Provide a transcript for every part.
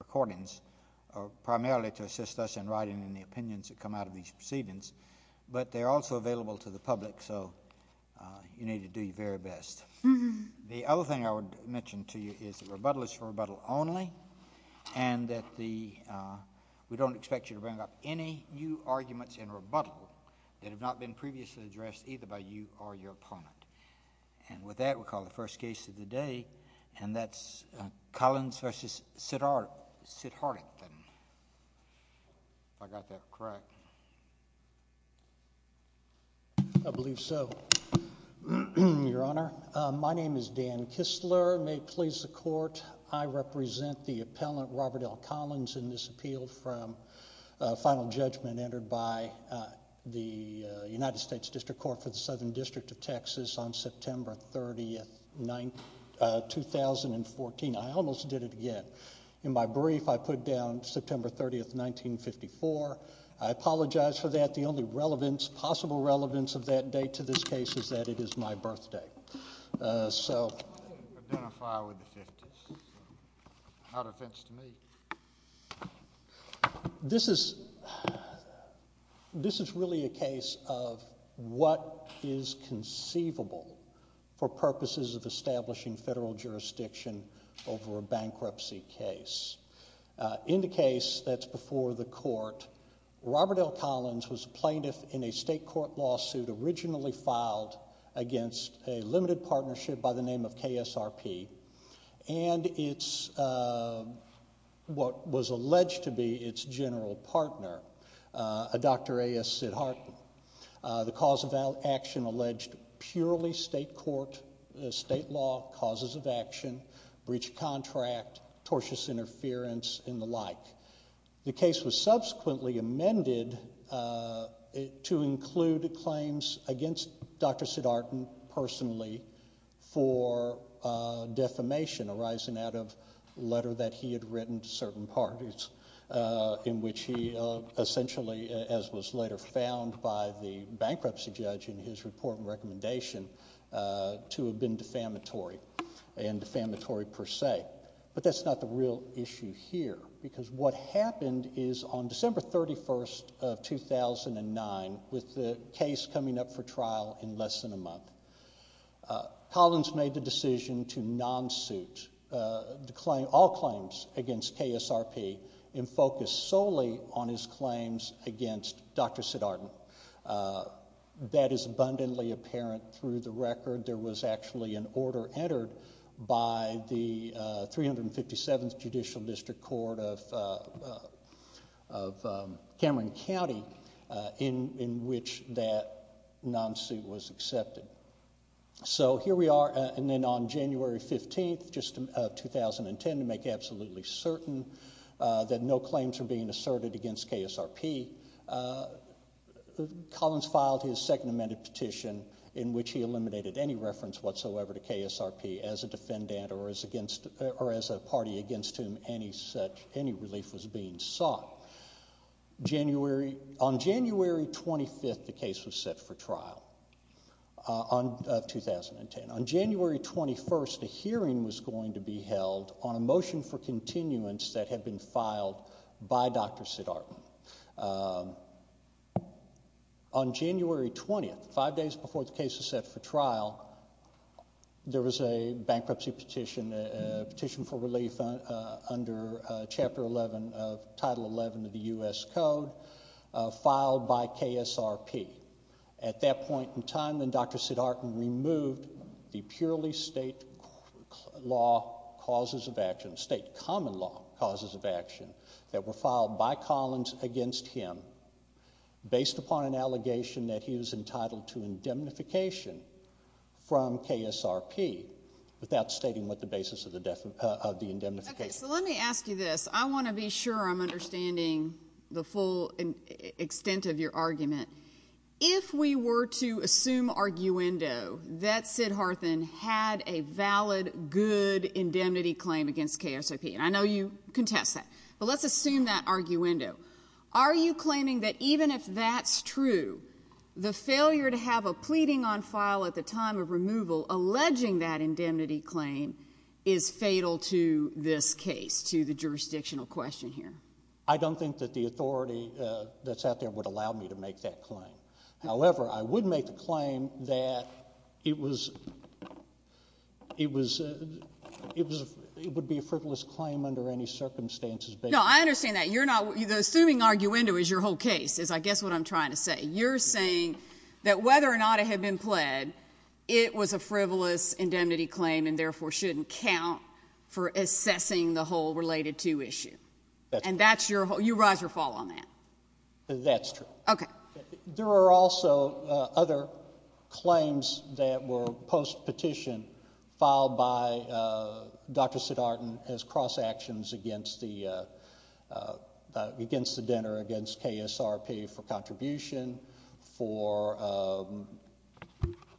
recordings primarily to assist us in writing in the opinions that come out of these proceedings, but they're also available to the public, so you need to do your very best. The other thing I would mention to you is that rebuttal is for rebuttal only, and that we don't expect you to bring up any new arguments in rebuttal that have not been previously addressed either by you or your opponent. And with that, we'll call the first case of the day, and that's Collins v. Sidharthan. If I got that correct. I believe so, Your Honor. My name is Dan Kistler. May it please the Court, I represent the appellant, Robert L. Collins, in this appeal from final judgment entered by the United States District Court for the Southern District of Texas on September 30th, 2014. I almost did it again. In my brief, I put down September 30th, 1954. I apologize for that. The only relevance, possible relevance of that date to this case is that it is my birthday. So. Identify with the fifties. It's not an offense to me. This is, this is really a case of what is conceivable for purposes of establishing federal jurisdiction over a bankruptcy case. In the case that's before the court, Robert L. Collins was plaintiff in a state court lawsuit originally filed against a limited partnership by the name of KSRP, and it's what was alleged to be its general partner, Dr. A.S. Sidharthan. The cause of action alleged purely state court, state law, causes of action, breach of contract, tortious interference, and the like. The case was subsequently amended to include claims against Dr. Sidharthan personally for defamation arising out of a letter that he had written to certain parties in which he essentially, as was later found by the bankruptcy judge in his report and recommendation, to have been defamatory, and defamatory per se. But that's not the real issue here, because what happened is on December 31st of 2009, with the case coming up for trial in less than a month, Collins made the decision to non-suit all claims against KSRP and focus solely on his claims against Dr. Sidharthan. That is abundantly apparent through the record. There was actually an order entered by the 357th Judicial District Court of Cameron County in which that non-suit was accepted. So here we are, and then on January 15th of 2010, to make absolutely certain that no claims are being asserted against KSRP, Collins filed his second amended petition in which he eliminated any reference whatsoever to KSRP as a defendant or as a party against whom any relief was being sought. On January 25th, the case was set for trial of 2010. On January 21st, a hearing was going to be held on a motion for continuance that had been filed by Dr. Sidharthan. On January 20th, five days before the case was set for trial, there was a bankruptcy petition, a petition for relief under Chapter 11 of Title 11 of the U.S. Code filed by KSRP. At that point in time, then Dr. Sidharthan removed the purely state law causes of action, state common law causes of action that were filed by Collins against him based upon an allegation that he was entitled to indemnification from KSRP without stating what the basis of the indemnification was. Okay, so let me ask you this. I want to be sure I'm understanding the full extent of your argument. If we were to assume arguendo that Sidharthan had a valid, good indemnity claim against KSRP, and I know you contest that, but let's assume that arguendo, are you claiming that even if that's true, the failure to have a pleading on file at the time of removal alleging that indemnity claim is fatal to this case, to the jurisdictional question here? I don't think that the authority that's out there would allow me to make that claim. However, I would make the claim that it was — it was — it was — it would be a frivolous claim under any circumstances based on the fact that he had a valid indemnity claim. No, I understand that. You're not — the assuming arguendo is your whole case, is I guess what I'm trying to say. You're saying that whether or not it had been pled, it was a frivolous indemnity claim and therefore shouldn't count for assessing the whole related to issue. That's true. And that's your — you rise or fall on that? That's true. Okay. There are also other claims that were post-petition filed by Dr. Sidhartan as cross-actions against the — against the denter, against KSRP for contribution, for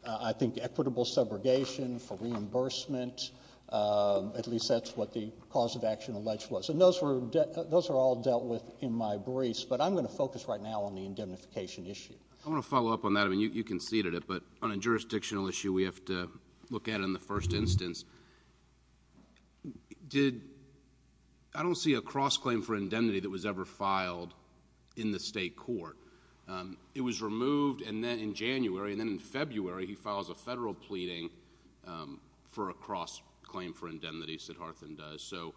I think equitable subrogation, for reimbursement. At least that's what the cause of action alleged was. And those were — those are all dealt with in my briefs, but I'm going to focus right now on the indemnification issue. I want to follow up on that. I mean, you conceded it, but on a jurisdictional issue, we have to look at it in the first instance. Did — I don't see a cross-claim for indemnity that was ever filed in the state court. It was removed and then in January and then in February, he files a federal pleading for a cross-claim for indemnity, Sidhartan does. So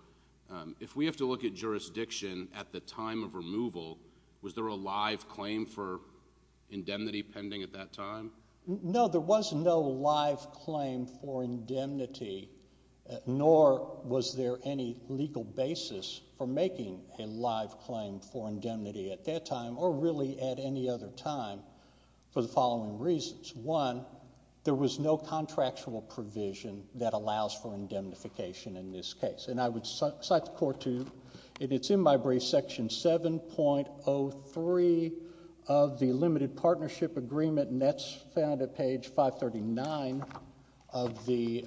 if we have to look at jurisdiction at the time of removal, was there a live claim for indemnity pending at that time? No, there was no live claim for indemnity, nor was there any legal basis for making a live claim for indemnity at that time or really at any other time for the following reasons. One, there was no contractual provision that allows for indemnification in this case. And I would cite the court to — and it's in my briefs, Section 7.03 of the Limited Partnership Agreement, and that's found at page 539 of the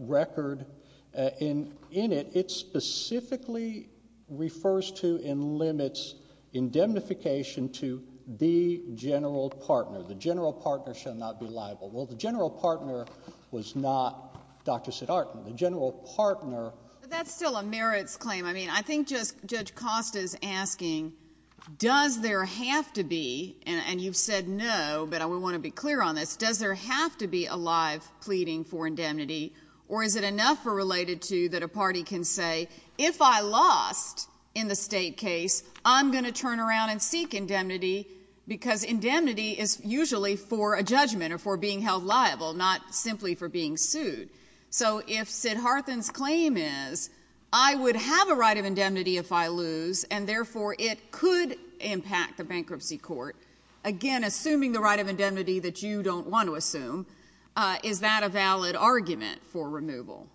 record. In it, it specifically refers to and limits indemnification to the general partner. The general partner shall not be liable. Well, the general partner was not Dr. Sidhartan. The general partner — But that's still a merits claim. I mean, I think just — Judge Costa is asking, does there have to be — and you've said no, but I want to be clear on this — does there have to be a live pleading for indemnity, or is it enough for related to that a party can say, if I lost in the State case, I'm going to turn around and seek indemnity, because indemnity is usually for a judgment or for being held liable, not simply for being sued. So if Sidhartan's claim is, I would have a right of indemnity if I lose, and therefore it could impact the bankruptcy court, again, assuming the right of indemnity that you don't want to assume, is that a valid argument for removal?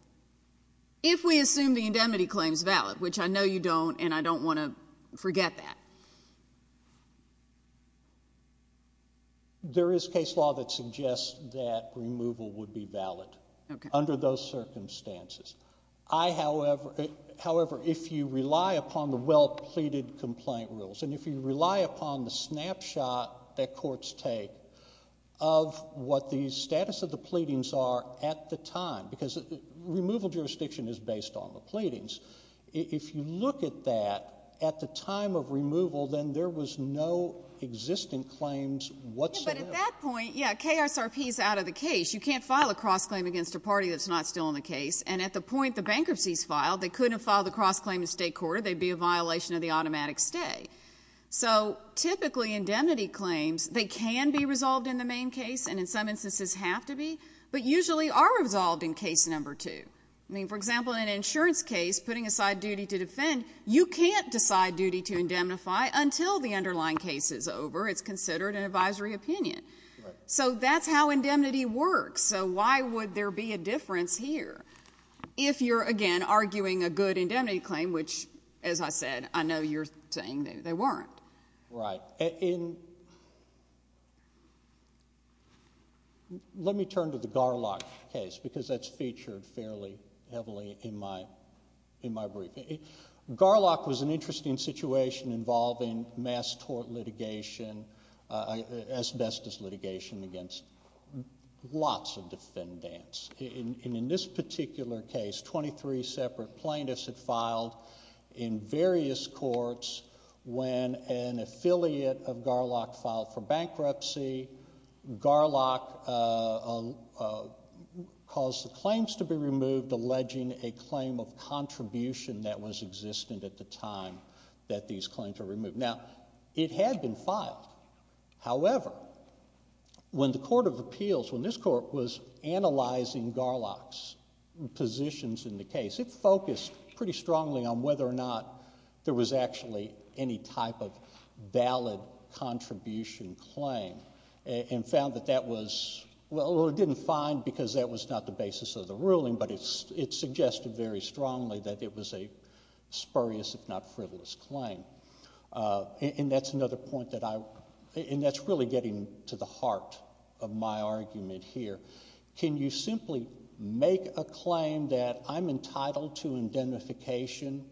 If we assume the indemnity claim is valid, which I know you don't, and I don't want to forget that. There is case law that suggests that removal would be valid under those circumstances. I, however — however, if you rely upon the well-pleaded complaint rules, and if you rely upon the snapshot that courts take of what the status of the pleadings are at the time, because removal jurisdiction is based on the pleadings, if you look at that, at the time of removal, then there was no existing claims whatsoever. Yeah, but at that point, yeah, KSRP is out of the case. You can't file a cross-claim against a party that's not still in the case, and at the point the bankruptcy is filed, they couldn't file the cross-claim in State court, or they'd be a violation of the automatic stay. So typically, indemnity claims, they can be resolved in the main case, and in some instances have to be, but usually are resolved in case number two. I mean, for example, in an insurance case, putting aside duty to defend, you can't decide duty to indemnify until the underlying case is over. It's considered an advisory opinion. So that's how indemnity works. So why would there be a difference here? If you're, again, arguing a good indemnity claim, which, as I said, I know you're saying they weren't. Right. Let me turn to the Garlock case, because that's featured fairly heavily in my briefing. Garlock was an interesting situation involving mass tort litigation, asbestos litigation against lots of defendants. And in this particular case, 23 separate plaintiffs had filed in affiliate of Garlock filed for bankruptcy. Garlock caused the claims to be removed, alleging a claim of contribution that was existent at the time that these claims were removed. Now, it had been filed. However, when the court of appeals, when this court was analyzing Garlock's positions in the case, it focused pretty strongly on whether or not there was actually any type of valid contribution claim, and found that that was, well, it didn't find because that was not the basis of the ruling, but it suggested very strongly that it was a spurious, if not frivolous claim. And that's another point that I, and that's really getting to the heart of my argument here. Can you simply make a claim that I'm entitled to indemnification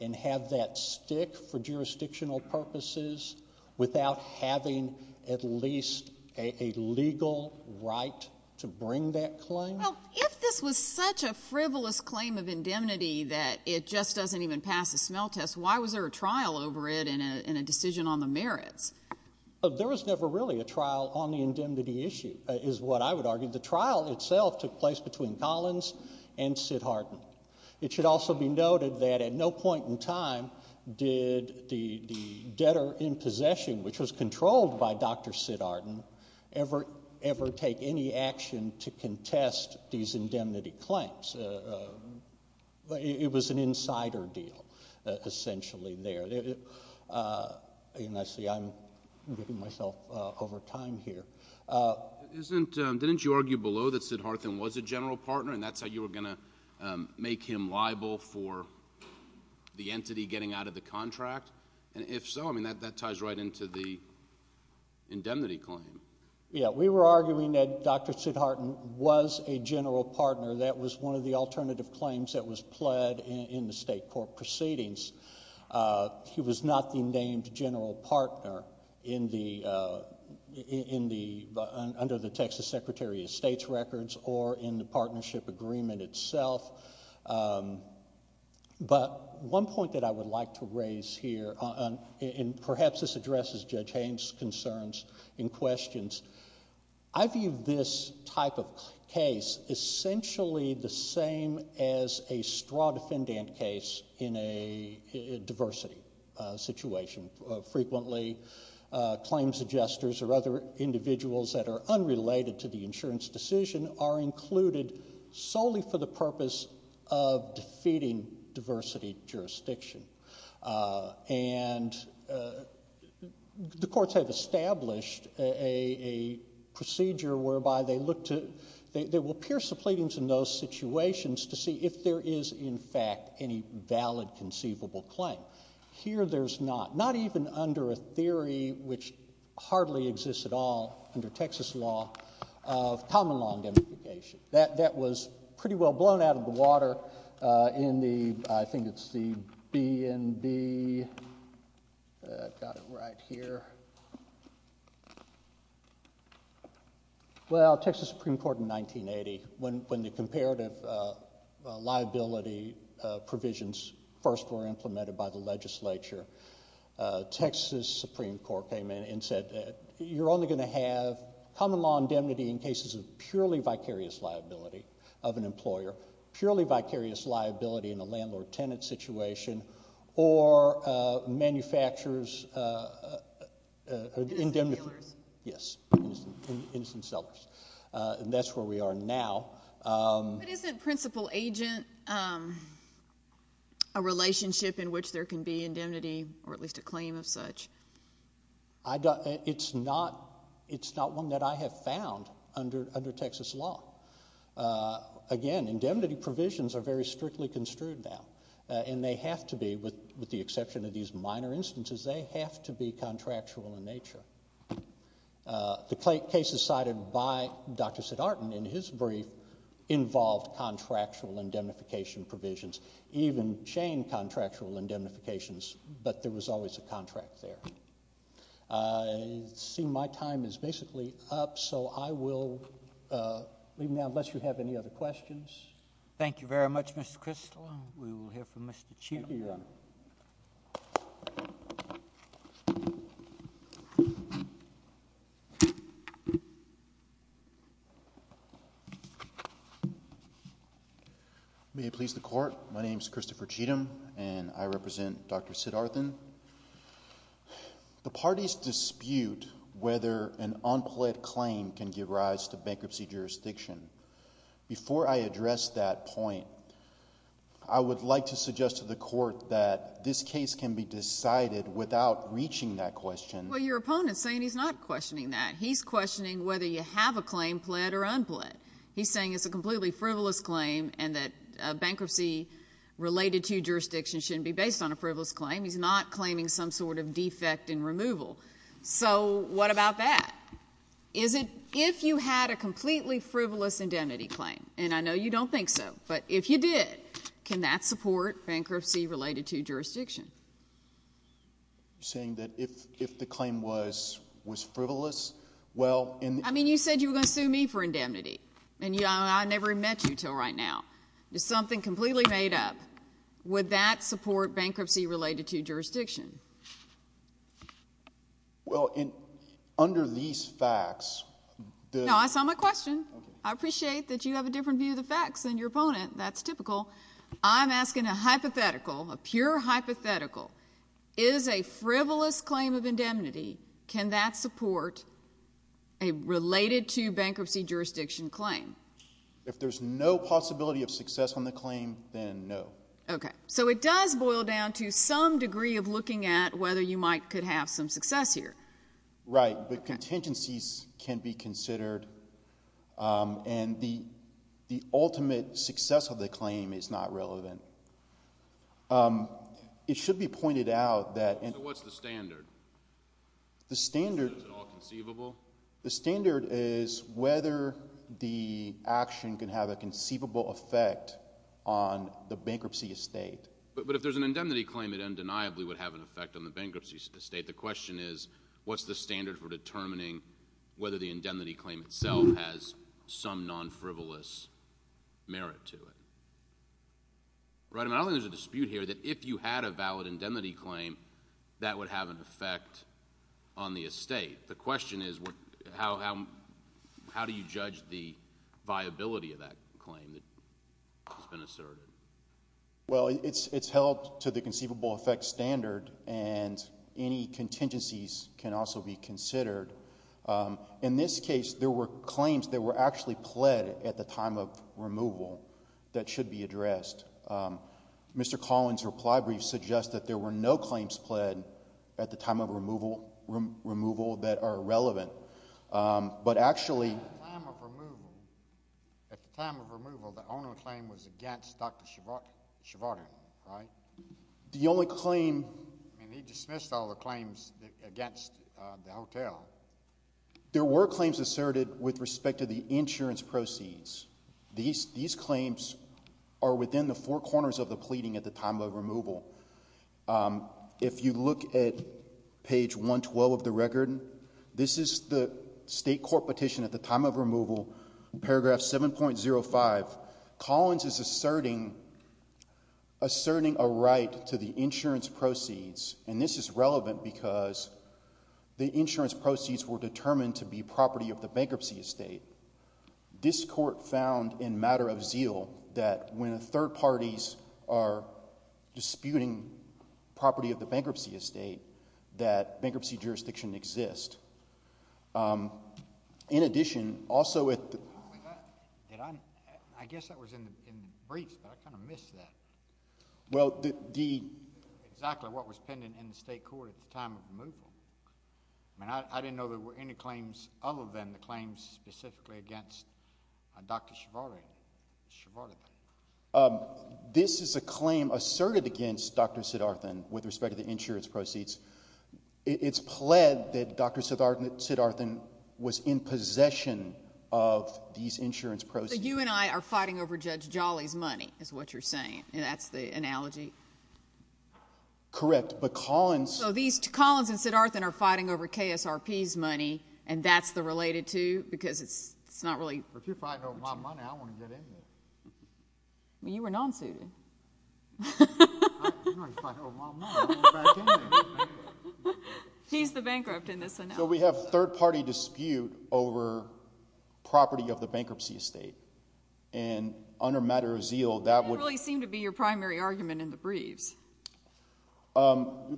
and have that stick for jurisdictional purposes without having at least a legal right to bring that claim? Well, if this was such a frivolous claim of indemnity that it just doesn't even pass a smell test, why was there a trial over it and a decision on the merits? There was never really a trial on the indemnity issue, is what I would argue. The trial itself took place between Collins and Siddharthan. It should also be noted that at no point in time did the debtor in possession, which was controlled by Dr. Siddharthan, ever take any action to contest these indemnity claims. It was an insider deal, essentially, there. And I see I'm giving myself over time here. Didn't you argue below that Siddharthan was a general partner and that's how you were going to make him liable for the entity getting out of the contract? And if so, that ties right into the indemnity claim. Yeah, we were arguing that Dr. Siddharthan was a general partner. That was one of the alternative claims that was pled in the state court proceedings. He was not the named general partner under the Texas Secretary of State's records or in the partnership agreement itself. But one point that I would like to raise here, and perhaps this addresses Judge Haynes' concerns and questions. I view this type of case essentially the same as a straw defendant case in a diversity situation. Frequently, claim suggesters or other individuals that are unrelated to the insurance decision are included solely for the purpose of defeating diversity jurisdiction. And the courts have established a procedure whereby they look to, they will pierce the case. And here there's not, not even under a theory which hardly exists at all under Texas law, of common law indemnification. That was pretty well blown out of the water in the, I think it's the BNB, got it right here. Well, Texas Supreme Court in 1980, when the comparative liability provisions first were implemented by the legislature, Texas Supreme Court came in and said, you're only going to have common law indemnity in cases of purely vicarious liability of an employer, purely vicarious liability in a landlord-tenant situation, or manufacturers indemnify, yes, innocent sellers. And that's where we are now. But isn't principal agent a relationship in which there can be indemnity, or at least a claim of such? It's not one that I have found under Texas law. Again, indemnity provisions are very strictly construed now. And they have to be, with the exception of these minor instances, they have to be contractual in nature. The cases cited by Dr. Siddhartan in his brief involved contractual indemnification provisions, even chain contractual indemnifications, but there was always a contract there. I see my time is basically up, so I will leave now unless you have any other questions. Thank you very much, Mr. Kristol. We will hear from Mr. Cheele. May it please the Court. My name is Christopher Cheatham, and I represent Dr. Siddhartan. The parties dispute whether an unpled claimed can give rise to bankruptcy jurisdiction. Before I address that point, I would like to suggest to the Court that this case can be decided without reaching that question. Well, your opponent is saying he's not questioning that. He's questioning whether you have a template. He's saying it's a completely frivolous claim and that a bankruptcy related to jurisdiction shouldn't be based on a frivolous claim. He's not claiming some sort of defect in removal. So what about that? Is it if you had a completely frivolous indemnity claim, and I know you don't think so, but if you did, can that support bankruptcy related to jurisdiction? Saying that if the claim was frivolous, well, in the... And I never met you until right now. It's something completely made up. Would that support bankruptcy related to jurisdiction? Well, under these facts, the... No, I saw my question. I appreciate that you have a different view of the facts than your opponent. That's typical. I'm asking a hypothetical, a pure hypothetical. Is a frivolous claim of indemnity, can that support a related to bankruptcy jurisdiction claim? If there's no possibility of success on the claim, then no. Okay. So it does boil down to some degree of looking at whether you might could have some success here. Right. But contingencies can be considered, and the ultimate success of the claim is not relevant. It should be pointed out that... So what's the standard? The standard... Is it all conceivable? The standard is whether the action can have a conceivable effect on the bankruptcy estate. But if there's an indemnity claim, it undeniably would have an effect on the bankruptcy estate. The question is, what's the standard for determining whether the indemnity claim itself has some non-frivolous merit to it? Right? And I don't think there's a dispute here that if you had a valid indemnity claim, that would have an effect on the estate. The question is, how do you judge the viability of that claim that's been asserted? Well it's held to the conceivable effect standard, and any contingencies can also be considered. In this case, there were claims that were actually pled at the time of removal that should be addressed. Mr. Collins' reply brief suggests that there were no claims pled at the time of removal that are relevant. But actually... At the time of removal, the owner of the claim was against Dr. Shavard, right? The only claim... I mean, he dismissed all the claims against the hotel. There were claims asserted with respect to the insurance proceeds. These claims are within the four corners of the pleading at the time of removal. If you look at page 112 of the record, this is the state court petition at the time of removal, paragraph 7.05. Collins is asserting a right to the insurance proceeds, and this is relevant because the insurance proceeds were determined to be property of the bankruptcy estate. This court found in matter of zeal that when third parties are disputing property of the bankruptcy estate, that bankruptcy jurisdiction exists. In addition, also... I guess that was in the briefs, but I kind of missed that. Well, the... Exactly what was pending in the state court at the time of removal. I mean, I didn't know there were any claims other than the claims specifically against Dr. Shavard. This is a claim asserted against Dr. Siddharthan with respect to the insurance proceeds. It's pled that Dr. Siddharthan was in possession of these insurance proceeds. So you and I are fighting over Judge Jolly's money, is what you're saying. That's the analogy? Correct. But Collins... So these... Collins and Siddharthan are fighting over KSRP's money, and that's the related two? Because it's not really... If you're fighting over my money, I want to get in there. Well, you were non-suited. I'm not fighting over my money. I want to get back in there. He's the bankrupt in this analogy. So we have third-party dispute over property of the bankruptcy estate, and under matter of zeal, that would... That didn't really seem to be your primary argument in the briefs.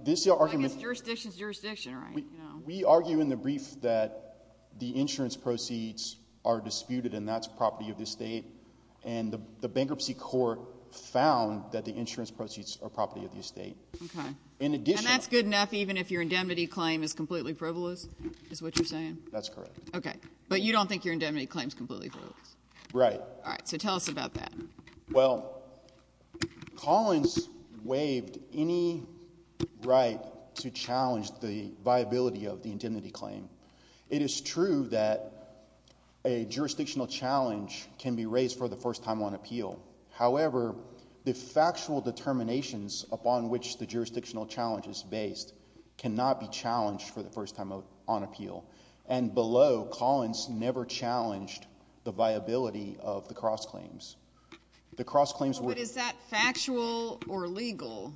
This argument... I guess jurisdiction is jurisdiction, right? We argue in the brief that the insurance proceeds are disputed, and that's property of the estate, and the bankruptcy court found that the insurance proceeds are property of the estate. Okay. In addition... And that's good enough even if your indemnity claim is completely frivolous, is what you're saying? That's correct. Okay. But you don't think your indemnity claim is completely frivolous? Right. All right. So tell us about that. Well, Collins waived any right to challenge the viability of the indemnity claim. It is true that a jurisdictional challenge can be raised for the first time on appeal. However, the factual determinations upon which the jurisdictional challenge is based cannot be challenged for the first time on appeal. And below, Collins never challenged the viability of the cross-claims. The cross-claims were... But is that factual or legal?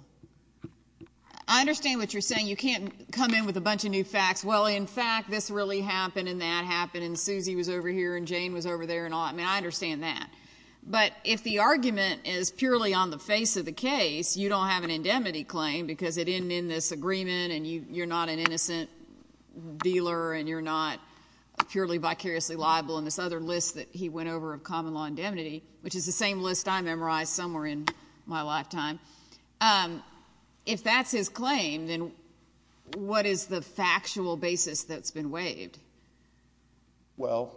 I understand what you're saying. You can't come in with a bunch of new facts. Well, in fact, this really happened, and that happened, and Suzy was over here, and Jane was over there, and all that. I mean, I understand that. But if the argument is purely on the face of the case, you don't have an indemnity claim, because it ended in this agreement, and you're not an innocent dealer, and you're not purely vicariously liable, and this other list that he went over of common law indemnity, which is the same list I memorized somewhere in my lifetime. If that's his claim, then what is the factual basis that's been waived? Well,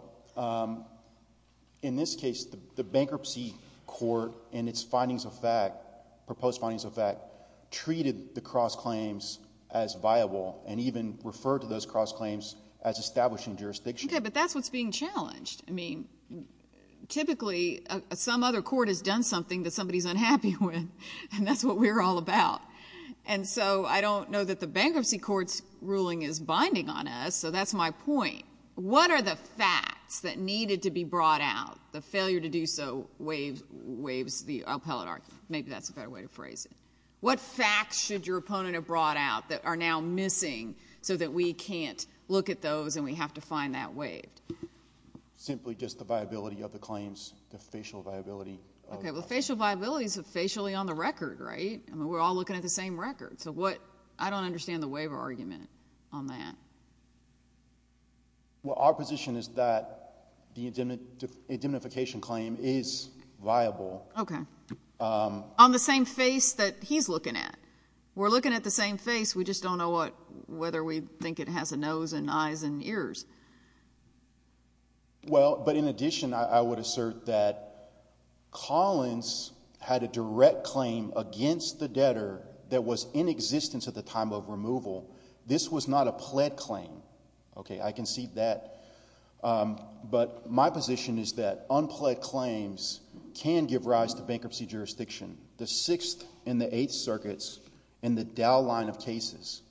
in this case, the bankruptcy court, in its findings of fact, proposed findings of fact, treated the cross-claims as viable, and even referred to those cross-claims as establishing jurisdiction. Okay, but that's what's being challenged. I mean, typically, some other court has done something that somebody's unhappy with, and that's what we're all about. And so I don't know that the bankruptcy court's ruling is binding on us, so that's my point. What are the facts that needed to be brought out? The failure to do so waives the appellate argument. Maybe that's a better way to phrase it. What facts should your opponent have brought out that are now missing, so that we can't look at those, and we have to find that waived? Simply just the viability of the claims, the facial viability. Okay, well, facial viability is facially on the record, right? I mean, we're all looking at the same record, so I don't understand the waiver argument on that. Well, our position is that the indemnification claim is viable. Okay. On the same face that he's looking at. We're looking at the same face, we just don't know whether we think it has a nose and eyes and ears. Well, but in addition, I would assert that Collins had a direct claim against the debtor that was in existence at the time of removal. This was not a pled claim. Okay, I can see that. But my position is that unpled claims can give rise to bankruptcy jurisdiction. The Sixth and the Eighth Circuits and the Dow line of cases.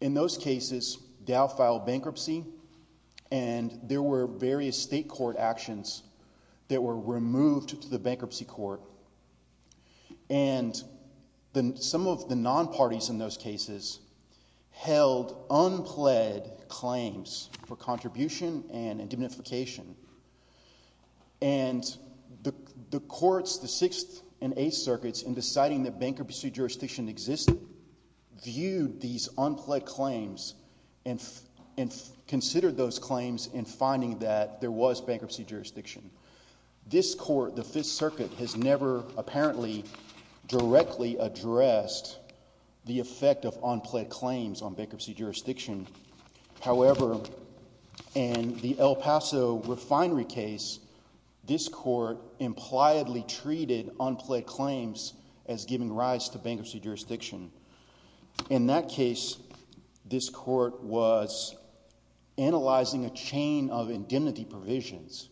In those cases, Dow filed bankruptcy, and there were various state court actions that were removed to the bankruptcy court. And some of the non-parties in those cases held unpled claims for contribution and indemnification. And the courts, the Sixth and Eighth Circuits, in deciding that bankruptcy jurisdiction existed, viewed these unpled claims and considered those claims in finding that there was bankruptcy jurisdiction. This court, the Fifth Circuit, has never apparently directly addressed the effect of unpled claims on bankruptcy jurisdiction. However, in the El Paso refinery case, this court impliedly treated unpled claims as giving rise to bankruptcy jurisdiction. In that case, this court was analyzing a chain of indemnity provisions.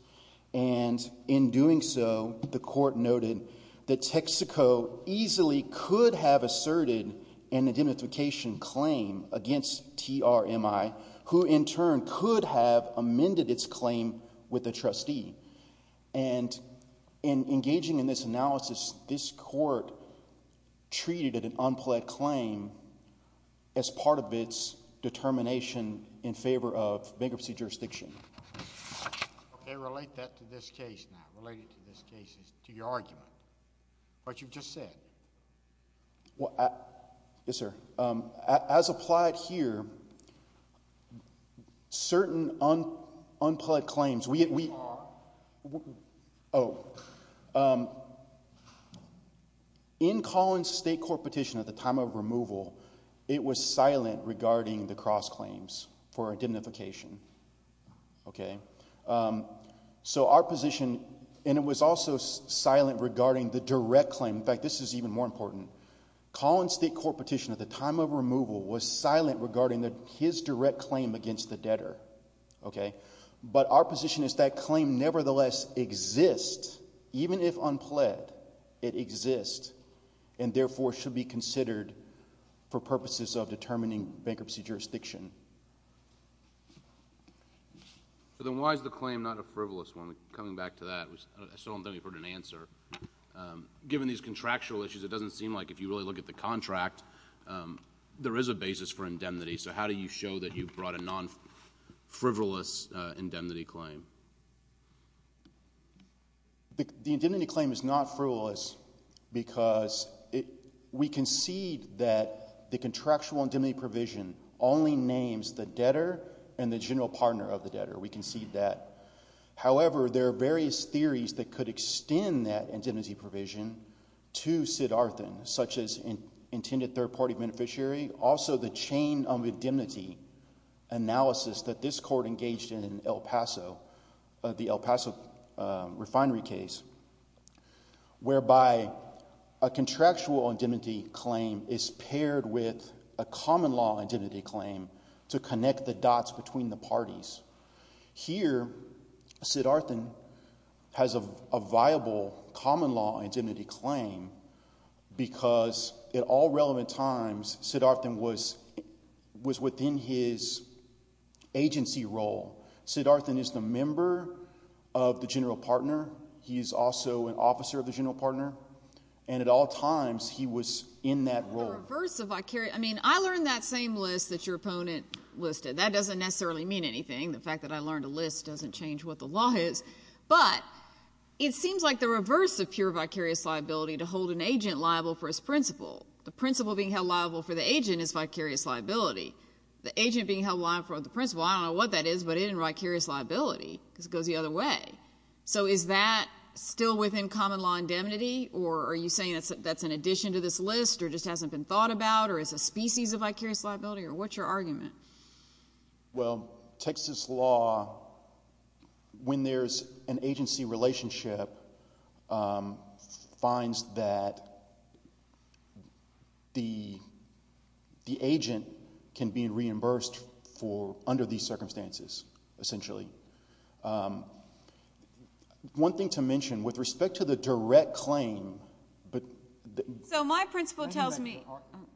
And in doing so, the court noted that Texaco easily could have asserted an indemnification claim against TRMI, who in turn could have amended its claim with the trustee. And in engaging in this analysis, this court treated an unpled claim as part of its determination in favor of bankruptcy jurisdiction. Okay, relate that to this case now, relate it to this case, to your argument, what you've just said. Well, yes, sir. As applied here, certain unpled claims, we Are. Oh. In Collins' state court petition at the time of removal, it was silent regarding the cross claims for indemnification. Okay. So our position, and it was also silent regarding the direct claim. In fact, this is even more important. Collins' state court petition at the time of removal was silent regarding his direct claim against the debtor. Okay. But our position is that claim nevertheless exists, even if unpled, it exists and therefore should be considered for purposes of determining bankruptcy jurisdiction. So then why is the claim not a frivolous one? Coming back to that, I still don't think we've heard an answer. Given these contractual issues, it doesn't seem like if you really look at the contract, there is a basis for indemnity. So how do you show that you brought a non-frivolous indemnity claim? The indemnity claim is not frivolous because we concede that the contractual indemnity provision only names the debtor and the general partner of the debtor. We concede that. However, there are various theories that could extend that indemnity provision to Sid Arthen, such as intended third-party beneficiary. Also, the chain of indemnity analysis that this case, the El Paso refinery case, whereby a contractual indemnity claim is paired with a common law indemnity claim to connect the dots between the parties. Here, Sid Arthen has a viable common law indemnity claim because at all relevant times, Sid Arthen was within his agency role. Sid Arthen is the member of the general partner. He is also an officer of the general partner. And at all times, he was in that role. I learned that same list that your opponent listed. That doesn't necessarily mean anything. The fact that I learned a list doesn't change what the law is. But it seems like the reverse of pure vicarious liability to hold an agent liable for his principle. The principle being held liable for the agent is vicarious liability. The agent being held liable for the principle, I don't know what that is, but it is vicarious liability because it goes the other way. So, is that still within common law indemnity, or are you saying that's an addition to this list or just hasn't been thought about, or it's a species of vicarious liability, or what's your argument? Well, Texas law, when there's an agency relationship, finds that the agent can be reimbursed for under these circumstances, essentially. One thing to mention, with respect to the direct claim, but... So, my principle tells me...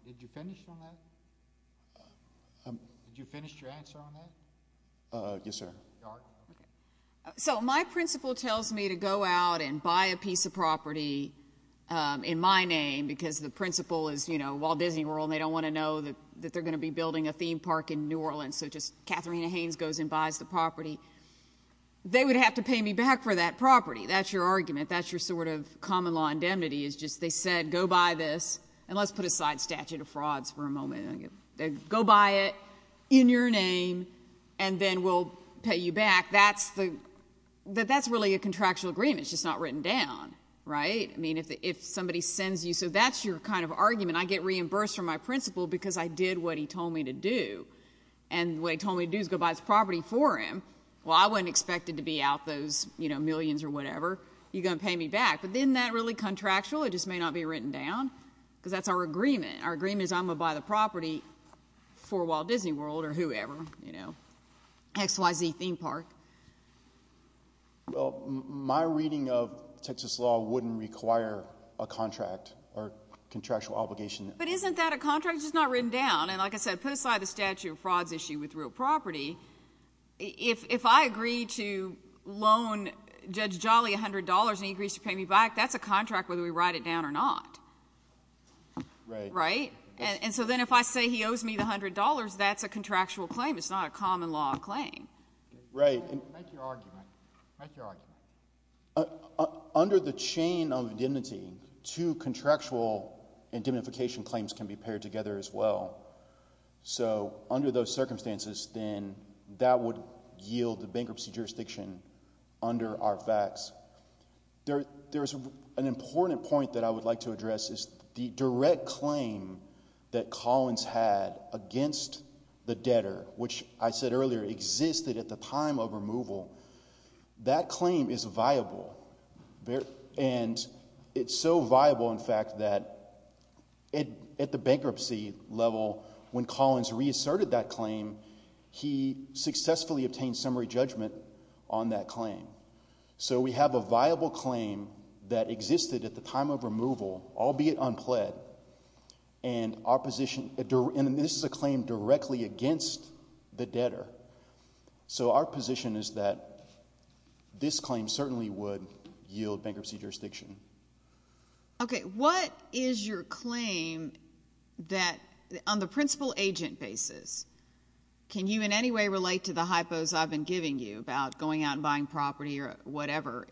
Did you finish on that? Did you finish your answer on that? Yes, sir. So, my principle tells me to go out and buy a piece of property in my name because the principle is, you know, Walt Disney World, and they don't want to know that they're going to be building a theme park in New Orleans, so just Katharina Haynes goes and buys the property. They would have to pay me back for that property. That's your argument. That's your sort of common law indemnity is just they said, go buy this, and let's put aside statute of frauds for a moment. Go buy it in your name, and then we'll pay you back. That's really a contractual agreement. It's just not written down, right? I mean, if somebody sends you... So, that's your kind of argument. I get reimbursed for my principle because I did what he told me to do, and what he told me to do is go buy this property for him. Well, I wasn't expected to be out those, you know, millions or whatever. You're going to pay me back, but isn't that really contractual? It just may not be written down because that's our agreement. Our agreement is I'm going to buy the property for Walt Disney World or whoever, you know, XYZ theme park. Well, my reading of Texas law wouldn't require a contract or contractual obligation. But isn't that a contract? It's just not written down, and like I said, put aside the statute of frauds issue with real property. If I agree to loan Judge Jolly $100 and he agrees to pay me back, that's a contract whether we write it down or not. Right. Right? And so then if I say he owes me the $100, that's a contractual claim. It's not a common law claim. Right. Make your argument. Make your argument. Under the chain of indemnity, two contractual indemnification claims can be paired together as well. So under those circumstances, then that would yield the bankruptcy jurisdiction under our facts. There's an important point that I would like to address is the direct claim that Collins had against the debtor, which I said earlier existed at the time of removal. That claim is viable. And it's so viable, in fact, that at the bankruptcy level, when Collins reasserted that claim, he successfully obtained summary judgment on that claim. So we have a viable claim that existed at the time of removal, albeit unpled, and this is a claim directly against the debtor. So our position is that this claim certainly would yield bankruptcy jurisdiction. Okay. What is your claim that on the principal-agent basis, can you in any way relate to the hypos I've been giving you about going out and buying property or whatever?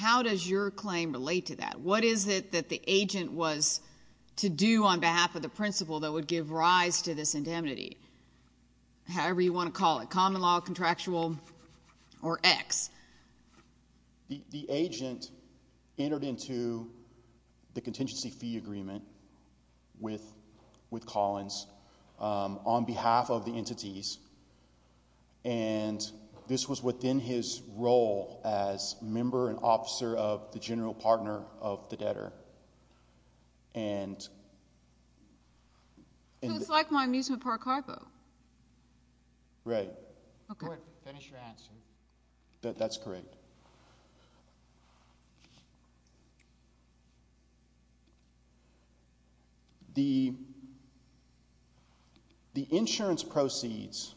How does your claim relate to that? What is it that the agent was to do on behalf of the principal that would give rise to this indemnity, however you want to call it, common law, contractual, or X? The agent entered into the contingency fee agreement with Collins on behalf of the entities, and this was within his role as member and officer of the general partner of the debtor. And So it's like my amusement park hardbow. Right. Okay. Go ahead. Finish your answer. That's correct. Okay. The insurance proceeds,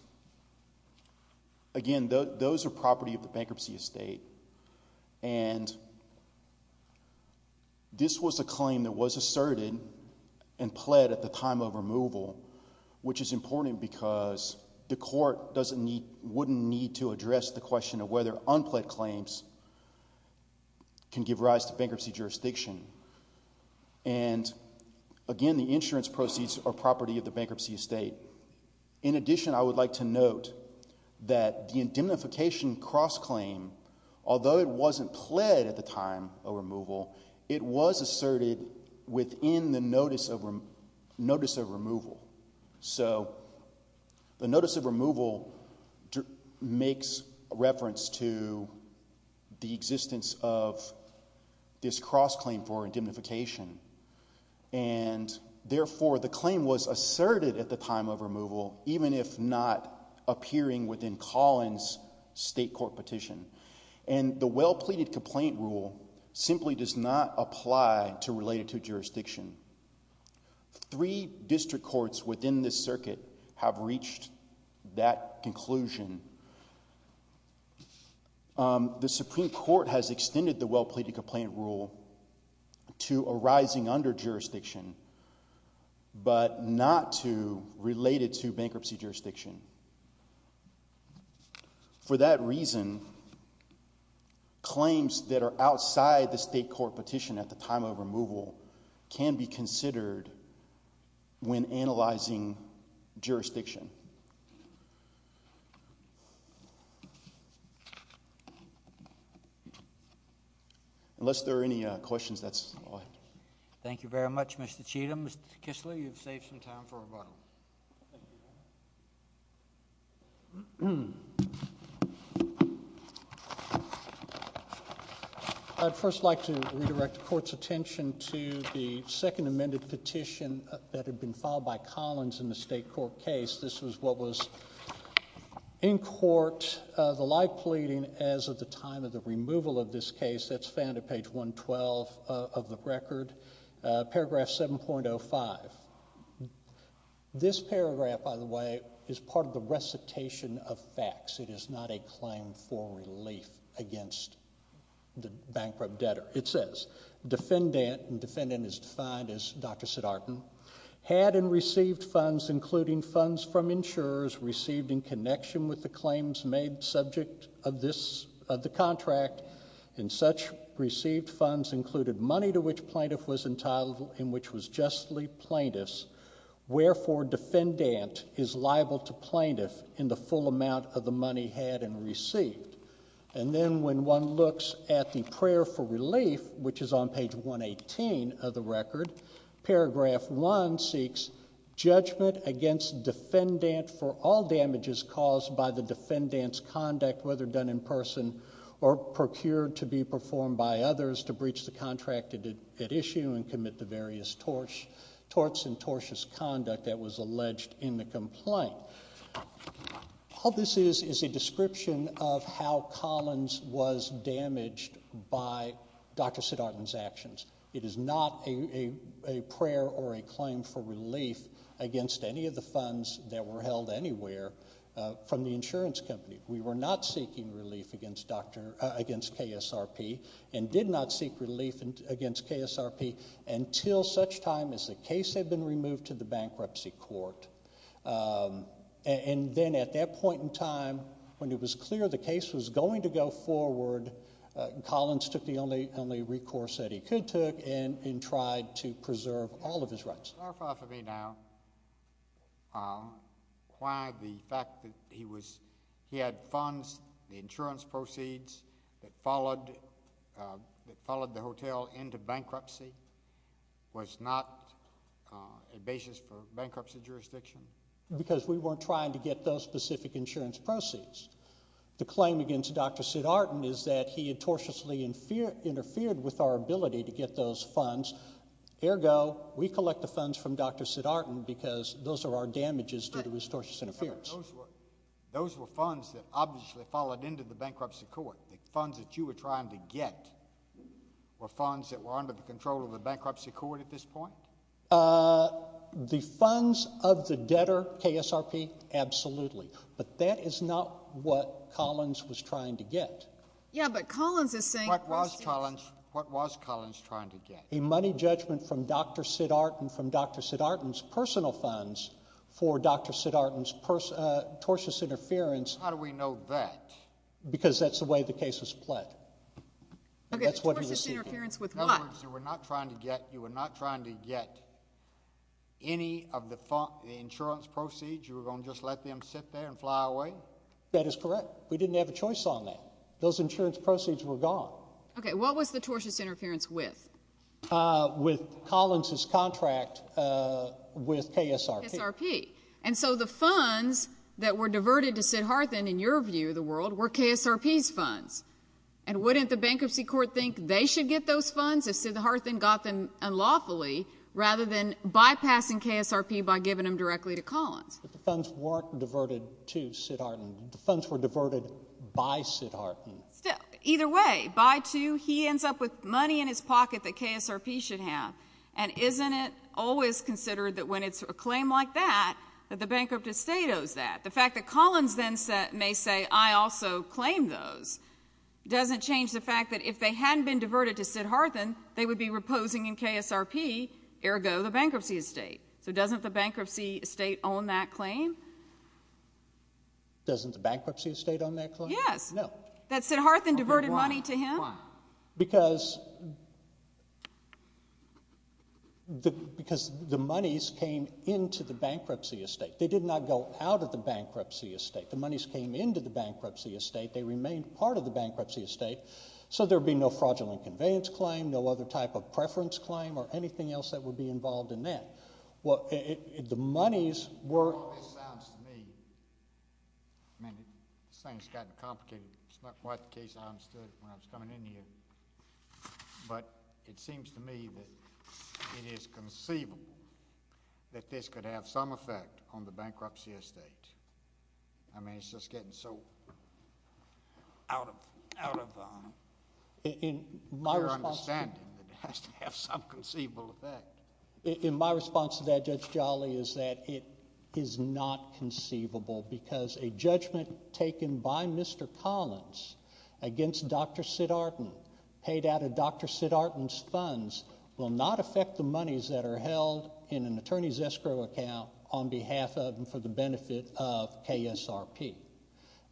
again, those are property of the bankruptcy estate, and this was a claim that was asserted and pled at the time of removal, which is important because the court wouldn't need to address the question of whether unpled claims can give rise to bankruptcy jurisdiction. And, again, the insurance proceeds are property of the bankruptcy estate. In addition, I would like to note that the indemnification cross-claim, although it wasn't pled at the time of removal, it was asserted within the notice of removal. So the notice of removal makes reference to the existence of this cross-claim for indemnification, and, therefore, the claim was asserted at the time of removal, even if not appearing within Collins' state court petition. And the well-pleaded complaint rule simply does not apply to related to jurisdiction. Three district courts within this circuit have reached that conclusion. The Supreme Court has extended the well-pleaded complaint rule to arising under jurisdiction, but not to related to bankruptcy jurisdiction. For that reason, claims that are outside the state court petition at the time of removal can be considered when analyzing jurisdiction. Unless there are any questions, that's all I have. Thank you very much, Mr. Cheatham. Mr. Kisly, you've saved some time for rebuttal. I'd first like to redirect the court's attention to the second amended petition that had been filed by Collins in the state court case. This was what was in court, the lie pleading as of the time of the removal of this case. It's found at page 112 of the record, paragraph 7.05. This paragraph, by the way, is part of the recitation of facts. It is not a claim for relief against the bankrupt debtor. It says, defendant, and defendant is defined as Dr. Siddhartan, had and received funds, including funds from insurers received in connection with the claims made subject of the contract, and such received funds included money to which plaintiff was entitled, and which was justly plaintiff's. Wherefore, defendant is liable to plaintiff in the full amount of the money had and received. And then when one looks at the prayer for relief, which is on page 118 of the record, paragraph 1 seeks judgment against defendant for all damages caused by the defendant's conduct, whether done in person or procured to be performed by others to breach the contract at issue and commit the various torts and tortious conduct that was alleged in the complaint. All this is is a description of how Collins was damaged by Dr. Siddhartan's actions. It is not a prayer or a claim for relief against any of the funds that were held anywhere from the insurance company. We were not seeking relief against KSRP and did not seek relief against KSRP until such time as the case had been removed to the bankruptcy court. And then at that point in time, when it was clear the case was going to go forward, Collins took the only recourse that he could take and tried to preserve all of his rights. Can you clarify for me now why the fact that he had funds, the insurance proceeds, that followed the hotel into bankruptcy was not a basis for bankruptcy jurisdiction? Because we weren't trying to get those specific insurance proceeds. The claim against Dr. Siddhartan is that he had tortiously interfered with our ability to get those funds. Ergo, we collect the funds from Dr. Siddhartan because those are our damages due to his tortious interference. Those were funds that obviously followed into the bankruptcy court. The funds that you were trying to get were funds that were under the control of the bankruptcy court at this point? The funds of the debtor, KSRP, absolutely. But that is not what Collins was trying to get. Yeah, but Collins is saying- What was Collins trying to get? A money judgment from Dr. Siddhartan from Dr. Siddhartan's personal funds for Dr. Siddhartan's tortious interference. How do we know that? Because that's the way the case was pled. Okay, so tortious interference with what? In other words, you were not trying to get any of the insurance proceeds? You were going to just let them sit there and fly away? That is correct. We didn't have a choice on that. Those insurance proceeds were gone. Okay, what was the tortious interference with? With Collins' contract with KSRP. KSRP. And so the funds that were diverted to Siddhartan, in your view, the world, were KSRP's funds. And wouldn't the bankruptcy court think they should get those funds if Siddhartan got them unlawfully, rather than bypassing KSRP by giving them directly to Collins? But the funds weren't diverted to Siddhartan. The funds were diverted by Siddhartan. Either way, by two, he ends up with money in his pocket that KSRP should have. And isn't it always considered that when it's a claim like that, that the bankrupt estate owes that? The fact that Collins then may say, I also claim those, doesn't change the fact that if they hadn't been diverted to Siddhartan, they would be reposing in KSRP, ergo the bankruptcy estate. So doesn't the bankruptcy estate own that claim? Doesn't the bankruptcy estate own that claim? Yes. That Siddhartan diverted money to him? Why? Because the monies came into the bankruptcy estate. They did not go out of the bankruptcy estate. The monies came into the bankruptcy estate. They remained part of the bankruptcy estate. So there would be no fraudulent conveyance claim, no other type of preference claim, or anything else that would be involved in that. The monies were— This sounds to me—this thing's gotten complicated. It's not quite the case I understood when I was coming in here. But it seems to me that it is conceivable that this could have some effect on the bankruptcy estate. I mean, it's just getting so out of pure understanding that it has to have some conceivable effect. My response to that, Judge Jolly, is that it is not conceivable because a judgment taken by Mr. Collins against Dr. Siddhartan, paid out of Dr. Siddhartan's funds, will not affect the monies that are held in an attorney's escrow account on behalf of and for the benefit of KSRP.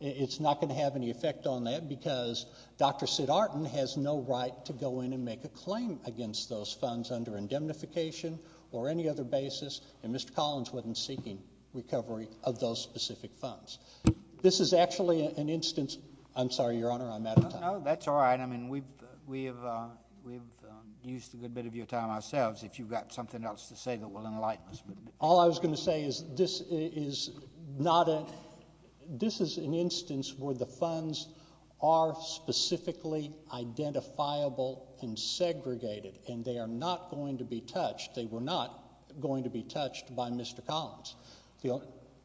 It's not going to have any effect on that because Dr. Siddhartan has no right to go in and make a claim against those funds under indemnification or any other basis, and Mr. Collins wasn't seeking recovery of those specific funds. This is actually an instance—I'm sorry, Your Honor, I'm out of time. No, that's all right. I mean, we've used a good bit of your time ourselves, if you've got something else to say that will enlighten us. All I was going to say is this is not a—this is an instance where the funds are specifically identifiable and segregated, and they are not going to be touched. They were not going to be touched by Mr. Collins.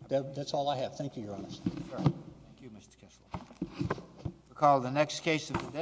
That's all I have. Thank you, Your Honor. Thank you, Mr. Kessler. Recall the next case of the day.